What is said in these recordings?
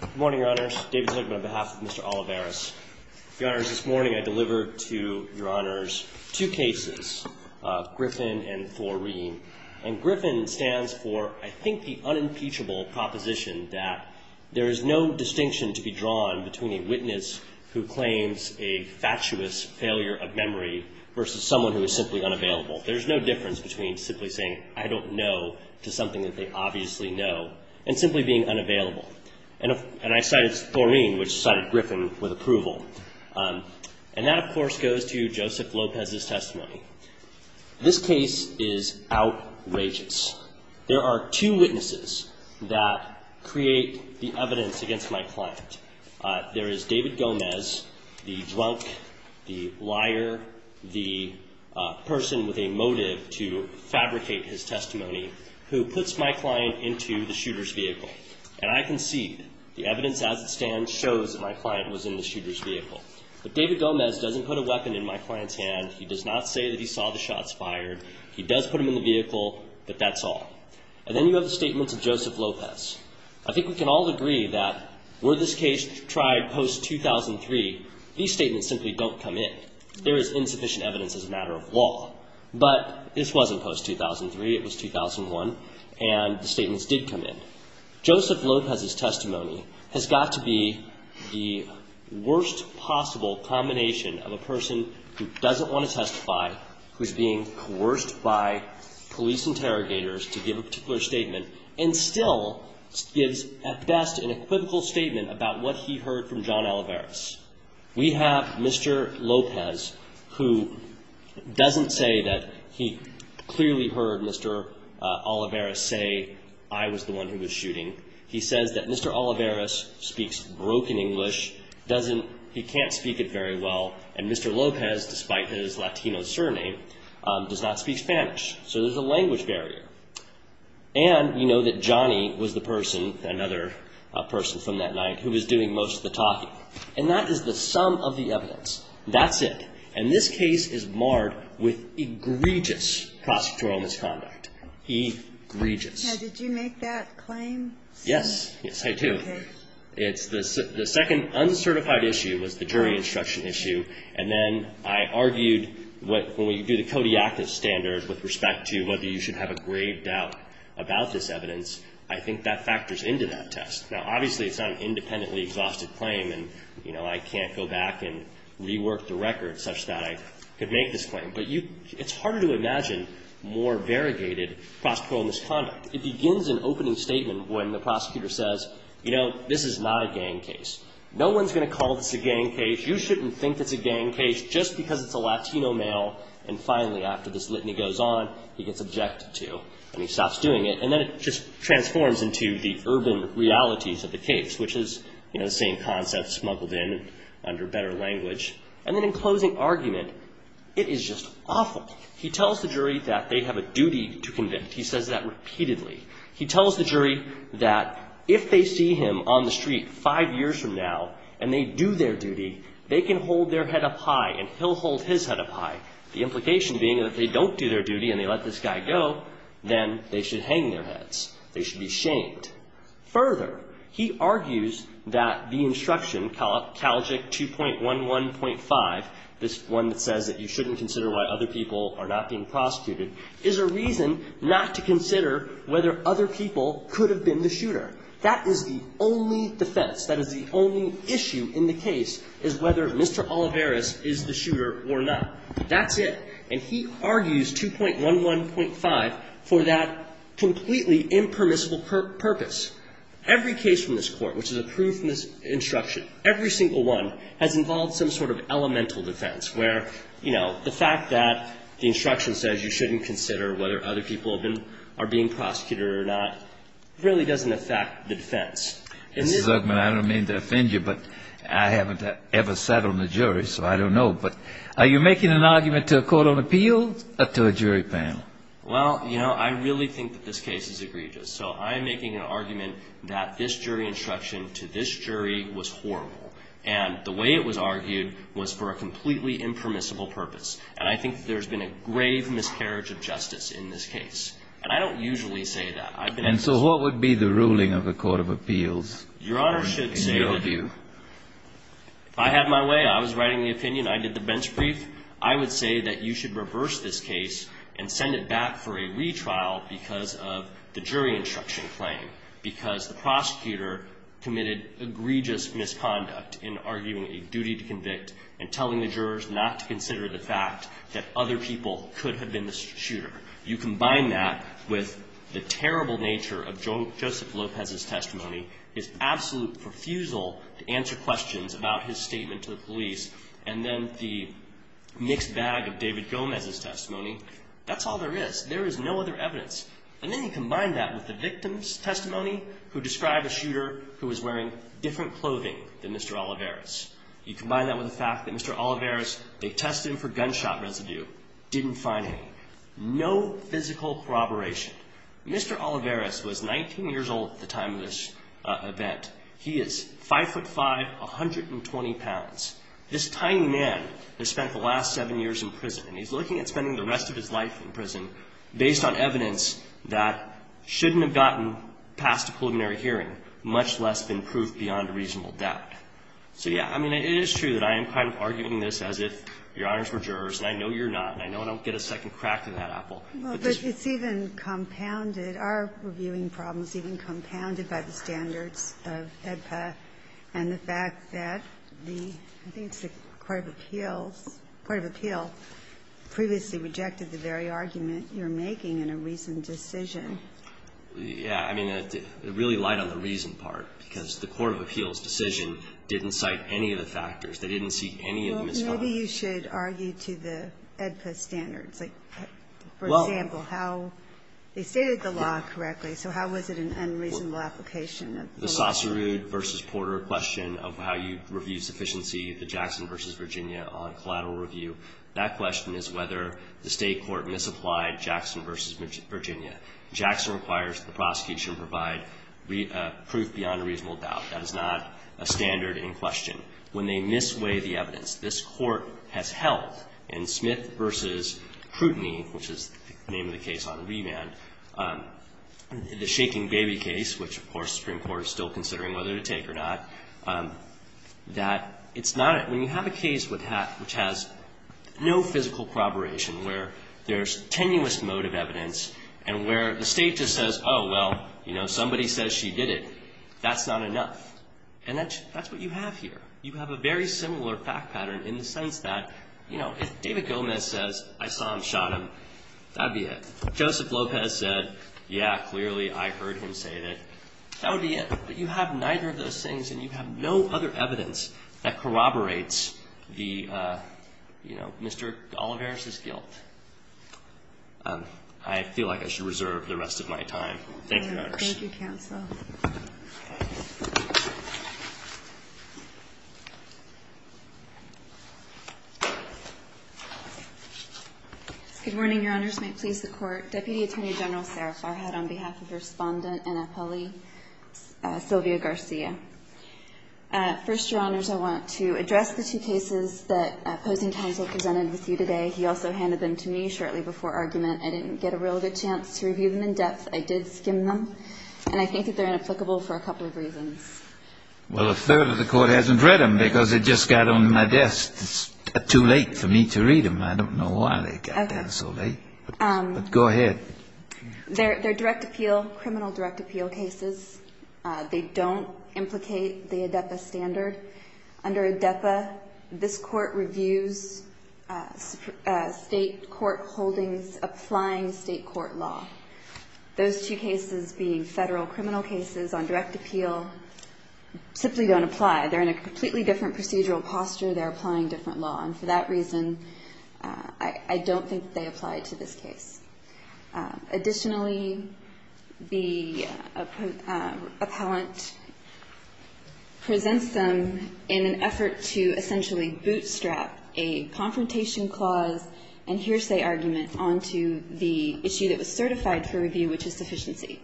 Good morning, Your Honors. David Zucman on behalf of Mr. Olivares. Your Honors, this morning I delivered to Your Honors two cases, Griffin and Thorine. And Griffin stands for, I think, the unimpeachable proposition that there is no distinction to be drawn between a witness who claims a fatuous failure of memory versus someone who is simply unavailable. There's no difference between simply saying, I don't know, to something that they obviously know, and simply being unavailable. And I cited Thorine, which cited Griffin with approval. And that, of course, goes to Joseph Lopez's testimony. This case is outrageous. There are two witnesses that create the evidence against my client. There is David Gomez, the drunk, the liar, the person with a motive to fabricate his testimony, who puts my client into the shooter's vehicle. And I concede, the evidence as it stands shows that my client was in the shooter's vehicle. But David Gomez doesn't put a weapon in my client's hand. He does not say that he saw the shots fired. He does put him in the vehicle, but that's all. And then you have the statements of Joseph Lopez. I think we can all agree that were this case tried post-2003, these statements simply don't come in. There is insufficient evidence as a matter of law, but this wasn't post-2003. It was 2001, and the statements did come in. Joseph Lopez's testimony has got to be the worst possible combination of a person who doesn't want to testify, who's being coerced by police interrogators to give a particular statement, and still gives, at best, an equivocal statement about what he heard from John Alvarez. We have Mr. Lopez, who doesn't say that he clearly heard Mr. Alvarez say, I was the one who was shooting. He says that Mr. Alvarez speaks broken English, he can't speak it very well, and Mr. Lopez, despite his Latino surname, does not speak Spanish. So there's a language barrier. And we know that Johnny was the person, another person from that night, who was doing most of the talking. And that is the sum of the evidence. That's it. And this case is marred with egregious prosecutorial misconduct. Egregious. Now, did you make that claim? Yes. Yes, I do. Okay. It's the second uncertified issue was the jury instruction issue. And then I argued when we do the Kodiakus standards with respect to whether you should have a grave doubt about this evidence, I think that factors into that test. Now, obviously, it's not an independently exhausted claim, and, you know, I can't go back and rework the record such that I could make this claim. But it's harder to imagine more variegated prosecutorial misconduct. It begins an opening statement when the prosecutor says, you know, this is not a gang case. No one's going to call this a gang case. You shouldn't think it's a gang case just because it's a Latino male. And finally, after this litany goes on, he gets objected to. And he stops doing it. And then it just transforms into the urban realities of the case, which is, you know, the same concept smuggled in under better language. And then in closing argument, it is just awful. He tells the jury that they have a duty to convict. He says that repeatedly. He tells the jury that if they see him on the street five years from now and they do their duty, they can hold their head up high and he'll hold his head up high, the implication being that if they don't do their duty and they let this guy go, then they should hang their heads. They should be shamed. Further, he argues that the instruction, Calgic 2.11.5, this one that says that you shouldn't consider why other people are not being prosecuted, is a reason not to consider whether other people could have been the shooter. That is the only defense. That is the only issue in the case is whether Mr. Olivares is the shooter or not. That's it. And he argues 2.11.5 for that completely impermissible purpose. Every case from this Court, which is approved from this instruction, every single one has involved some sort of elemental defense where, you know, the fact that the instruction says you shouldn't consider whether other people have been or are being prosecuted or not really doesn't affect the defense. And this one ---- Mr. Zuckman, I don't mean to offend you, but I haven't ever sat on a jury, so I don't know. But are you making an argument to a court of appeals or to a jury panel? Well, you know, I really think that this case is egregious. So I'm making an argument that this jury instruction to this jury was horrible. And the way it was argued was for a completely impermissible purpose. And I think there's been a grave miscarriage of justice in this case. And I don't usually say that. And so what would be the ruling of a court of appeals in your view? If I had my way, I was writing the opinion, I did the bench brief, I would say that you should reverse this case and send it back for a retrial because of the jury instruction claim, because the prosecutor committed egregious misconduct in arguing a duty to convict and telling the jurors not to consider the fact that other people could have been the shooter. You combine that with the terrible nature of Joseph Lopez's testimony, his absolute refusal to answer questions about his statement to the police, and then the mixed bag of David Gomez's testimony, that's all there is. There is no other evidence. And then you combine that with the victim's testimony who described a shooter who was wearing different clothing than Mr. Olivares. You combine that with the fact that Mr. Olivares, they tested him for gunshot residue, didn't find him, no physical corroboration. Mr. Olivares was 19 years old at the time of this event. He is 5'5", 120 pounds. This tiny man has spent the last seven years in prison, and he's looking at spending the rest of his life in prison based on evidence that shouldn't have gotten past a preliminary hearing, much less than proof beyond a reasonable doubt. So, yeah, I mean, it is true that I am kind of arguing this as if Your Honors were jurors, and I know you're not, and I know I don't get a second crack of that apple. But it's even compounded, our reviewing problem is even compounded by the standards of AEDPA and the fact that the, I think it's the Court of Appeals, Court of Appeals previously rejected the very argument you're making in a reasoned decision. Yeah. I mean, it really lied on the reason part, because the Court of Appeals decision didn't cite any of the factors. They didn't see any of the misconduct. Maybe you should argue to the AEDPA standards. Like, for example, how they stated the law correctly, so how was it an unreasonable application of the law? The Saucerud v. Porter question of how you review sufficiency, the Jackson v. Virginia on collateral review, that question is whether the State court misapplied Jackson v. Virginia. Jackson requires the prosecution provide proof beyond a reasonable doubt. That is not a standard in question. It's a standard in question when they misweigh the evidence. This Court has held in Smith v. Crutany, which is the name of the case on the remand, the Shaking Baby case, which of course the Supreme Court is still considering whether to take or not, that it's not, when you have a case which has no physical corroboration, where there's tenuous mode of evidence and where the State just says, oh, well, you know, somebody says she did it. That's not enough. And that's what you have here. You have a very similar fact pattern in the sense that, you know, if David Gomez says, I saw him, shot him, that would be it. Joseph Lopez said, yeah, clearly I heard him say that. That would be it. But you have neither of those things and you have no other evidence that corroborates the, you know, Mr. Olivares' guilt. Thank you, Your Honor. Thank you, counsel. Good morning, Your Honors. May it please the Court. Deputy Attorney General Sara Farhad on behalf of Respondent and appellee Sylvia Garcia. First, Your Honors, I want to address the two cases that opposing counsel presented with you today. He also handed them to me shortly before argument. I didn't get a real good chance to review them in depth. I did skim them. And I think that they're inapplicable for a couple of reasons. Well, a third of the Court hasn't read them because it just got on my desk. It's too late for me to read them. I don't know why they got there so late. Okay. But go ahead. They're direct appeal, criminal direct appeal cases. They don't implicate the ADEPA standard. Under ADEPA, this Court reviews State court holdings applying State court law. Those two cases being Federal criminal cases on direct appeal simply don't apply. They're in a completely different procedural posture. They're applying different law. And for that reason, I don't think they apply to this case. Additionally, the appellant presents them in an effort to essentially bootstrap a confrontation clause and hearsay argument onto the issue that was certified for review, which is sufficiency.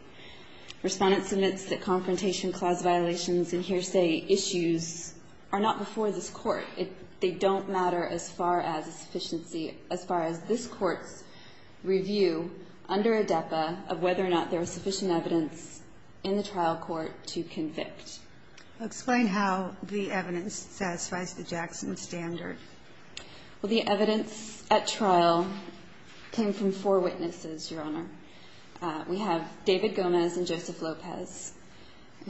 Respondents admits that confrontation clause violations and hearsay issues are not before this Court. They don't matter as far as a sufficiency, as far as this Court's review under ADEPA of whether or not there was sufficient evidence in the trial court to convict. Explain how the evidence satisfies the Jackson standard. Well, the evidence at trial came from four witnesses, Your Honor. We have David Gomez and Joseph Lopez,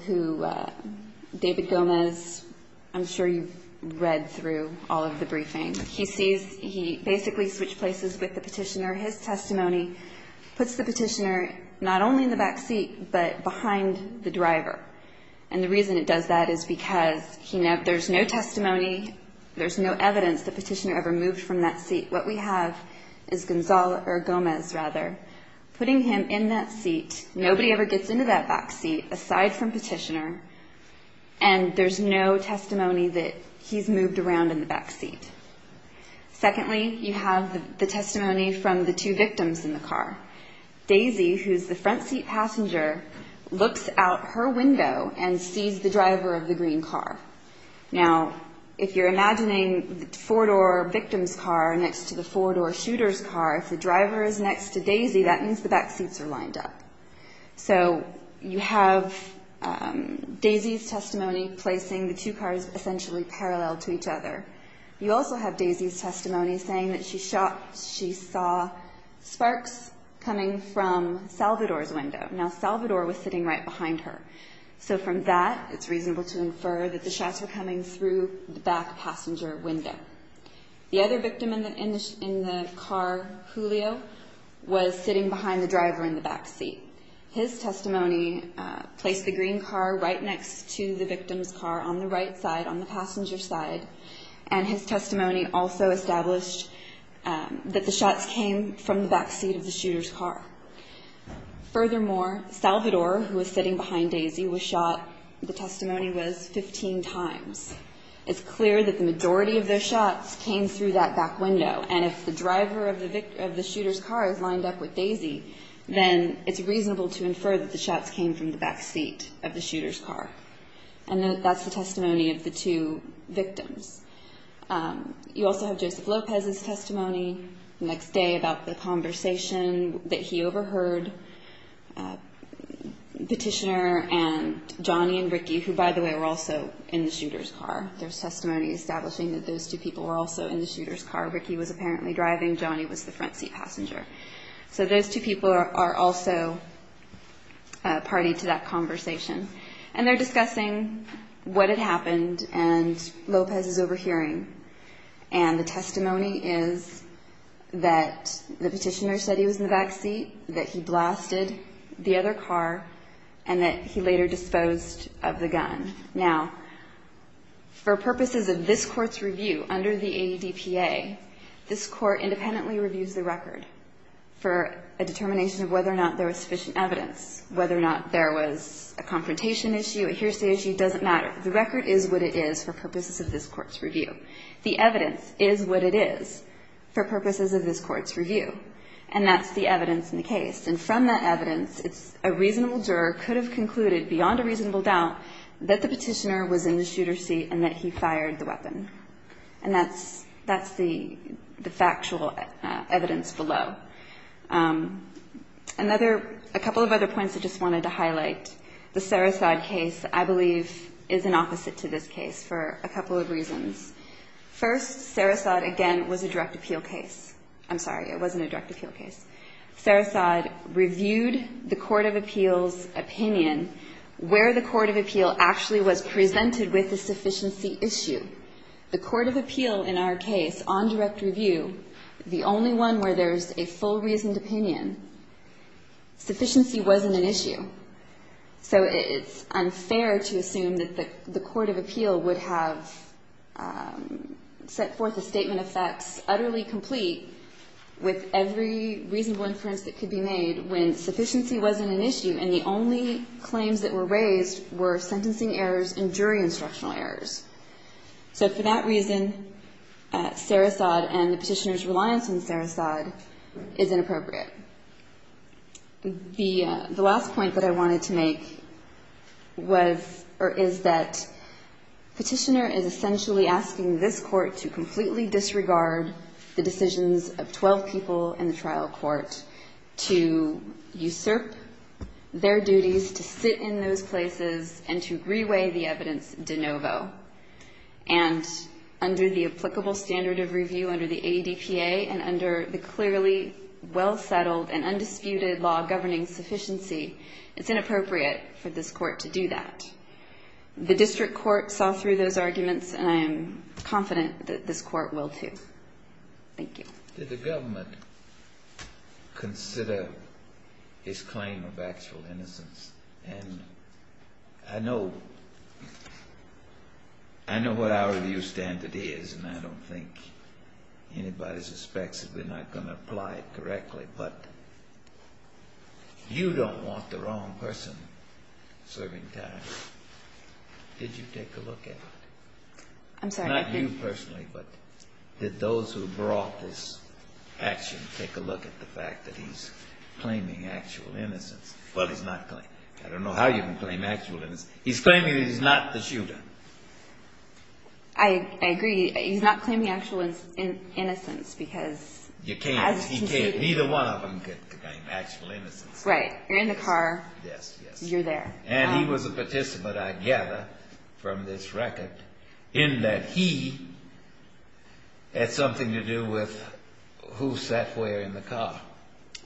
who David Gomez, I'm sure you've read through all of the briefing. He sees he basically switched places with the Petitioner. His testimony puts the Petitioner not only in the back seat, but behind the driver. And the reason it does that is because there's no testimony, there's no evidence the Petitioner ever moved from that seat. What we have is Gomez putting him in that seat. Nobody ever gets into that back seat aside from Petitioner, and there's no testimony that he's moved around in the back seat. Secondly, you have the testimony from the two victims in the car. Daisy, who's the front seat passenger, looks out her window and sees the driver of the green car. Now, if you're imagining the four-door victim's car next to the four-door shooter's car, if the driver is next to Daisy, that means the back seats are lined up. So you have Daisy's testimony placing the two cars essentially parallel to each other. You also have Daisy's testimony saying that she saw sparks coming from Salvador's window. Now, Salvador was sitting right behind her. So from that, it's reasonable to infer that the shots were coming through the back passenger window. The other victim in the car, Julio, was sitting behind the driver in the back seat. His testimony placed the green car right next to the victim's car on the right side, on the left. And his testimony also established that the shots came from the back seat of the shooter's car. Furthermore, Salvador, who was sitting behind Daisy, was shot, the testimony was, 15 times. It's clear that the majority of those shots came through that back window. And if the driver of the shooter's car is lined up with Daisy, then it's reasonable to infer that the shots came from the back seat of the shooter's car. And that's the testimony of the two victims. You also have Joseph Lopez's testimony the next day about the conversation that he overheard Petitioner and Johnny and Ricky, who, by the way, were also in the shooter's car. There's testimony establishing that those two people were also in the shooter's car. Ricky was apparently driving. Johnny was the front seat passenger. So those two people are also party to that conversation. And they're discussing what had happened and Lopez's overhearing. And the testimony is that the Petitioner said he was in the back seat, that he blasted the other car, and that he later disposed of the gun. Now, for purposes of this Court's review under the ADPA, this Court independently reviews the record for a determination of whether or not there was sufficient evidence, whether or not there was a confrontation issue, a hearsay issue, it doesn't matter. The record is what it is for purposes of this Court's review. The evidence is what it is for purposes of this Court's review. And that's the evidence in the case. And from that evidence, a reasonable juror could have concluded beyond a reasonable doubt that the Petitioner was in the shooter's seat and that he fired the weapon. And that's the factual evidence below. Another – a couple of other points I just wanted to highlight. The Sarasad case, I believe, is an opposite to this case for a couple of reasons. First, Sarasad, again, was a direct appeal case. I'm sorry. It wasn't a direct appeal case. Sarasad reviewed the court of appeals' opinion where the court of appeal actually was presented with a sufficiency issue. The court of appeal in our case, on direct review, the only one where there's a full reasoned opinion, sufficiency wasn't an issue. So it's unfair to assume that the court of appeal would have set forth a statement of facts utterly complete with every reasonable inference that could be made when sufficiency wasn't an issue and the only claims that were raised were sentencing errors and jury instructional errors. So for that reason, Sarasad and the Petitioner's reliance on Sarasad is inappropriate. The last point that I wanted to make was – or is that Petitioner is essentially asking this Court to completely disregard the decisions of 12 people in the trial court to usurp their duties, to sit in those places, and to reweigh the evidence de novo. And under the applicable standard of review under the ADPA and under the clearly well-settled and undisputed law governing sufficiency, it's inappropriate for this Court to do that. The district court saw through those arguments and I am confident that this Court will, too. Thank you. Did the government consider his claim of actual innocence? And I know what our review standard is and I don't think anybody suspects that we're not going to apply it correctly, but you don't want the wrong person serving time. Did you take a look at it? I'm sorry, I didn't. Not you personally, but did those who brought this action take a look at the fact that he's claiming actual innocence? Well, he's not claiming. I don't know how you can claim actual innocence. He's claiming that he's not the shooter. I agree. He's not claiming actual innocence because – You can't. He can't. Neither one of them can claim actual innocence. Right. You're in the car. Yes, yes. You're there. And he was a participant, I gather, from this record in that he had something to do with who sat where in the car.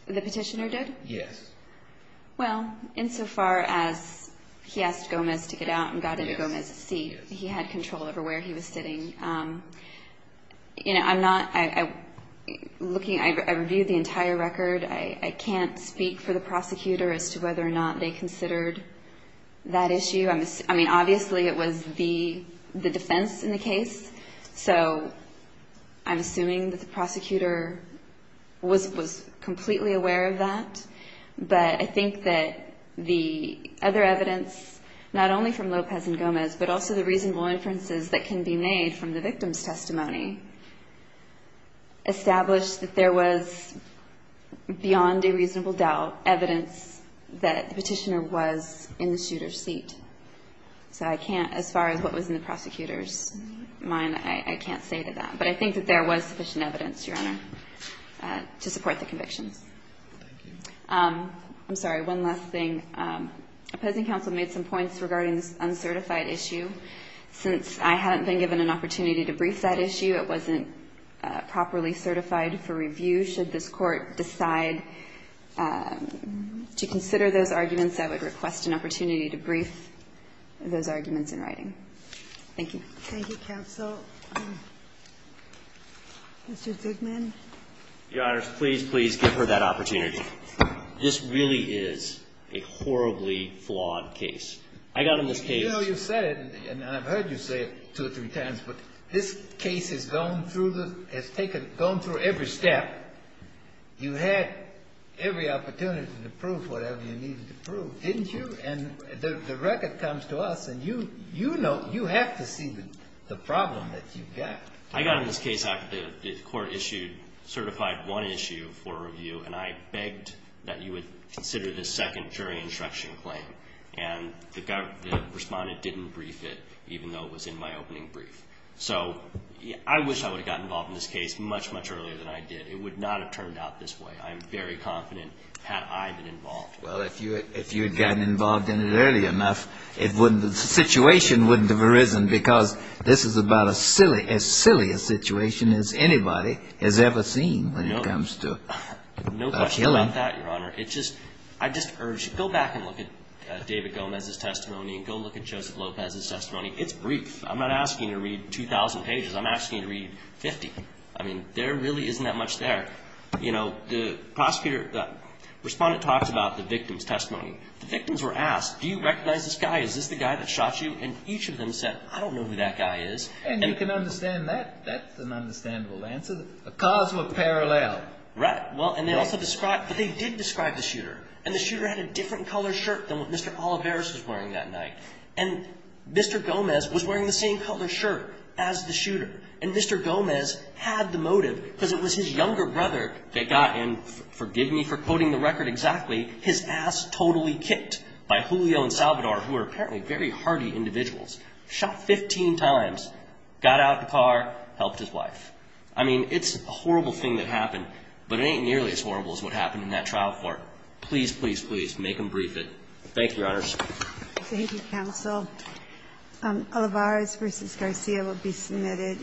The petitioner did? Yes. Well, insofar as he asked Gomez to get out and got into Gomez's seat, he had control over where he was sitting. You know, I'm not – I reviewed the entire record. I can't speak for the prosecutor as to whether or not they considered that issue. I mean, obviously it was the defense in the case, so I'm assuming that the prosecutor was completely aware of that. But I think that the other evidence, not only from Lopez and Gomez, but also the reasonable inferences that can be made from the victim's testimony, established that there was, beyond a reasonable doubt, evidence that the petitioner was in the shooter's seat. So I can't – as far as what was in the prosecutor's mind, I can't say to that. But I think that there was sufficient evidence, Your Honor, to support the conviction. Thank you. I'm sorry. One last thing. Opposing counsel made some points regarding this uncertified issue. Since I haven't been given an opportunity to brief that issue, it wasn't properly certified for review. Should this Court decide to consider those arguments, I would request an opportunity to brief those arguments in writing. Thank you. Thank you, counsel. Mr. Zegman. Your Honors, please, please give her that opportunity. This really is a horribly flawed case. I got on this case – You know, you said it, and I've heard you say it two or three times, but this case has gone through the – has taken – gone through every step. You had every opportunity to prove whatever you needed to prove, didn't you? And the record comes to us, and you know – you have to see the problem that you've got. I got on this case after the Court issued – certified one issue for review, and I begged that you would consider this second jury instruction claim. And the Respondent didn't brief it, even though it was in my opening brief. So I wish I would have gotten involved in this case much, much earlier than I did. It would not have turned out this way, I'm very confident, had I been involved. Well, if you had gotten involved in it early enough, it wouldn't – the situation wouldn't have arisen, because this is about a silly – as silly a situation as anybody has ever seen when it comes to a killing. No question about that, Your Honor. It's just – I just urge – go back and look at David Gomez's testimony, and go look at Joseph Lopez's testimony. It's brief. I'm not asking you to read 2,000 pages. I'm asking you to read 50. I mean, there really isn't that much there. You know, the prosecutor – the Respondent talks about the victim's testimony. The victims were asked, do you recognize this guy? Is this the guy that shot you? And each of them said, I don't know who that guy is. And you can understand that. That's an understandable answer. The cars were parallel. Right. Well, and they also described – but they did describe the shooter. And the shooter had a different color shirt than what Mr. Oliveros was wearing that night. And Mr. Gomez was wearing the same color shirt as the shooter. And Mr. Gomez had the motive because it was his younger brother that got – and forgive me for quoting the record exactly – his ass totally kicked by Julio and Salvador, who are apparently very hardy individuals. Shot 15 times. Got out of the car. Helped his wife. I mean, it's a horrible thing that happened. But it ain't nearly as horrible as what happened in that trial court. Please, please, please, make them brief it. Thank you, Your Honors. Thank you, counsel. Oliveros v. Garcia will be submitted.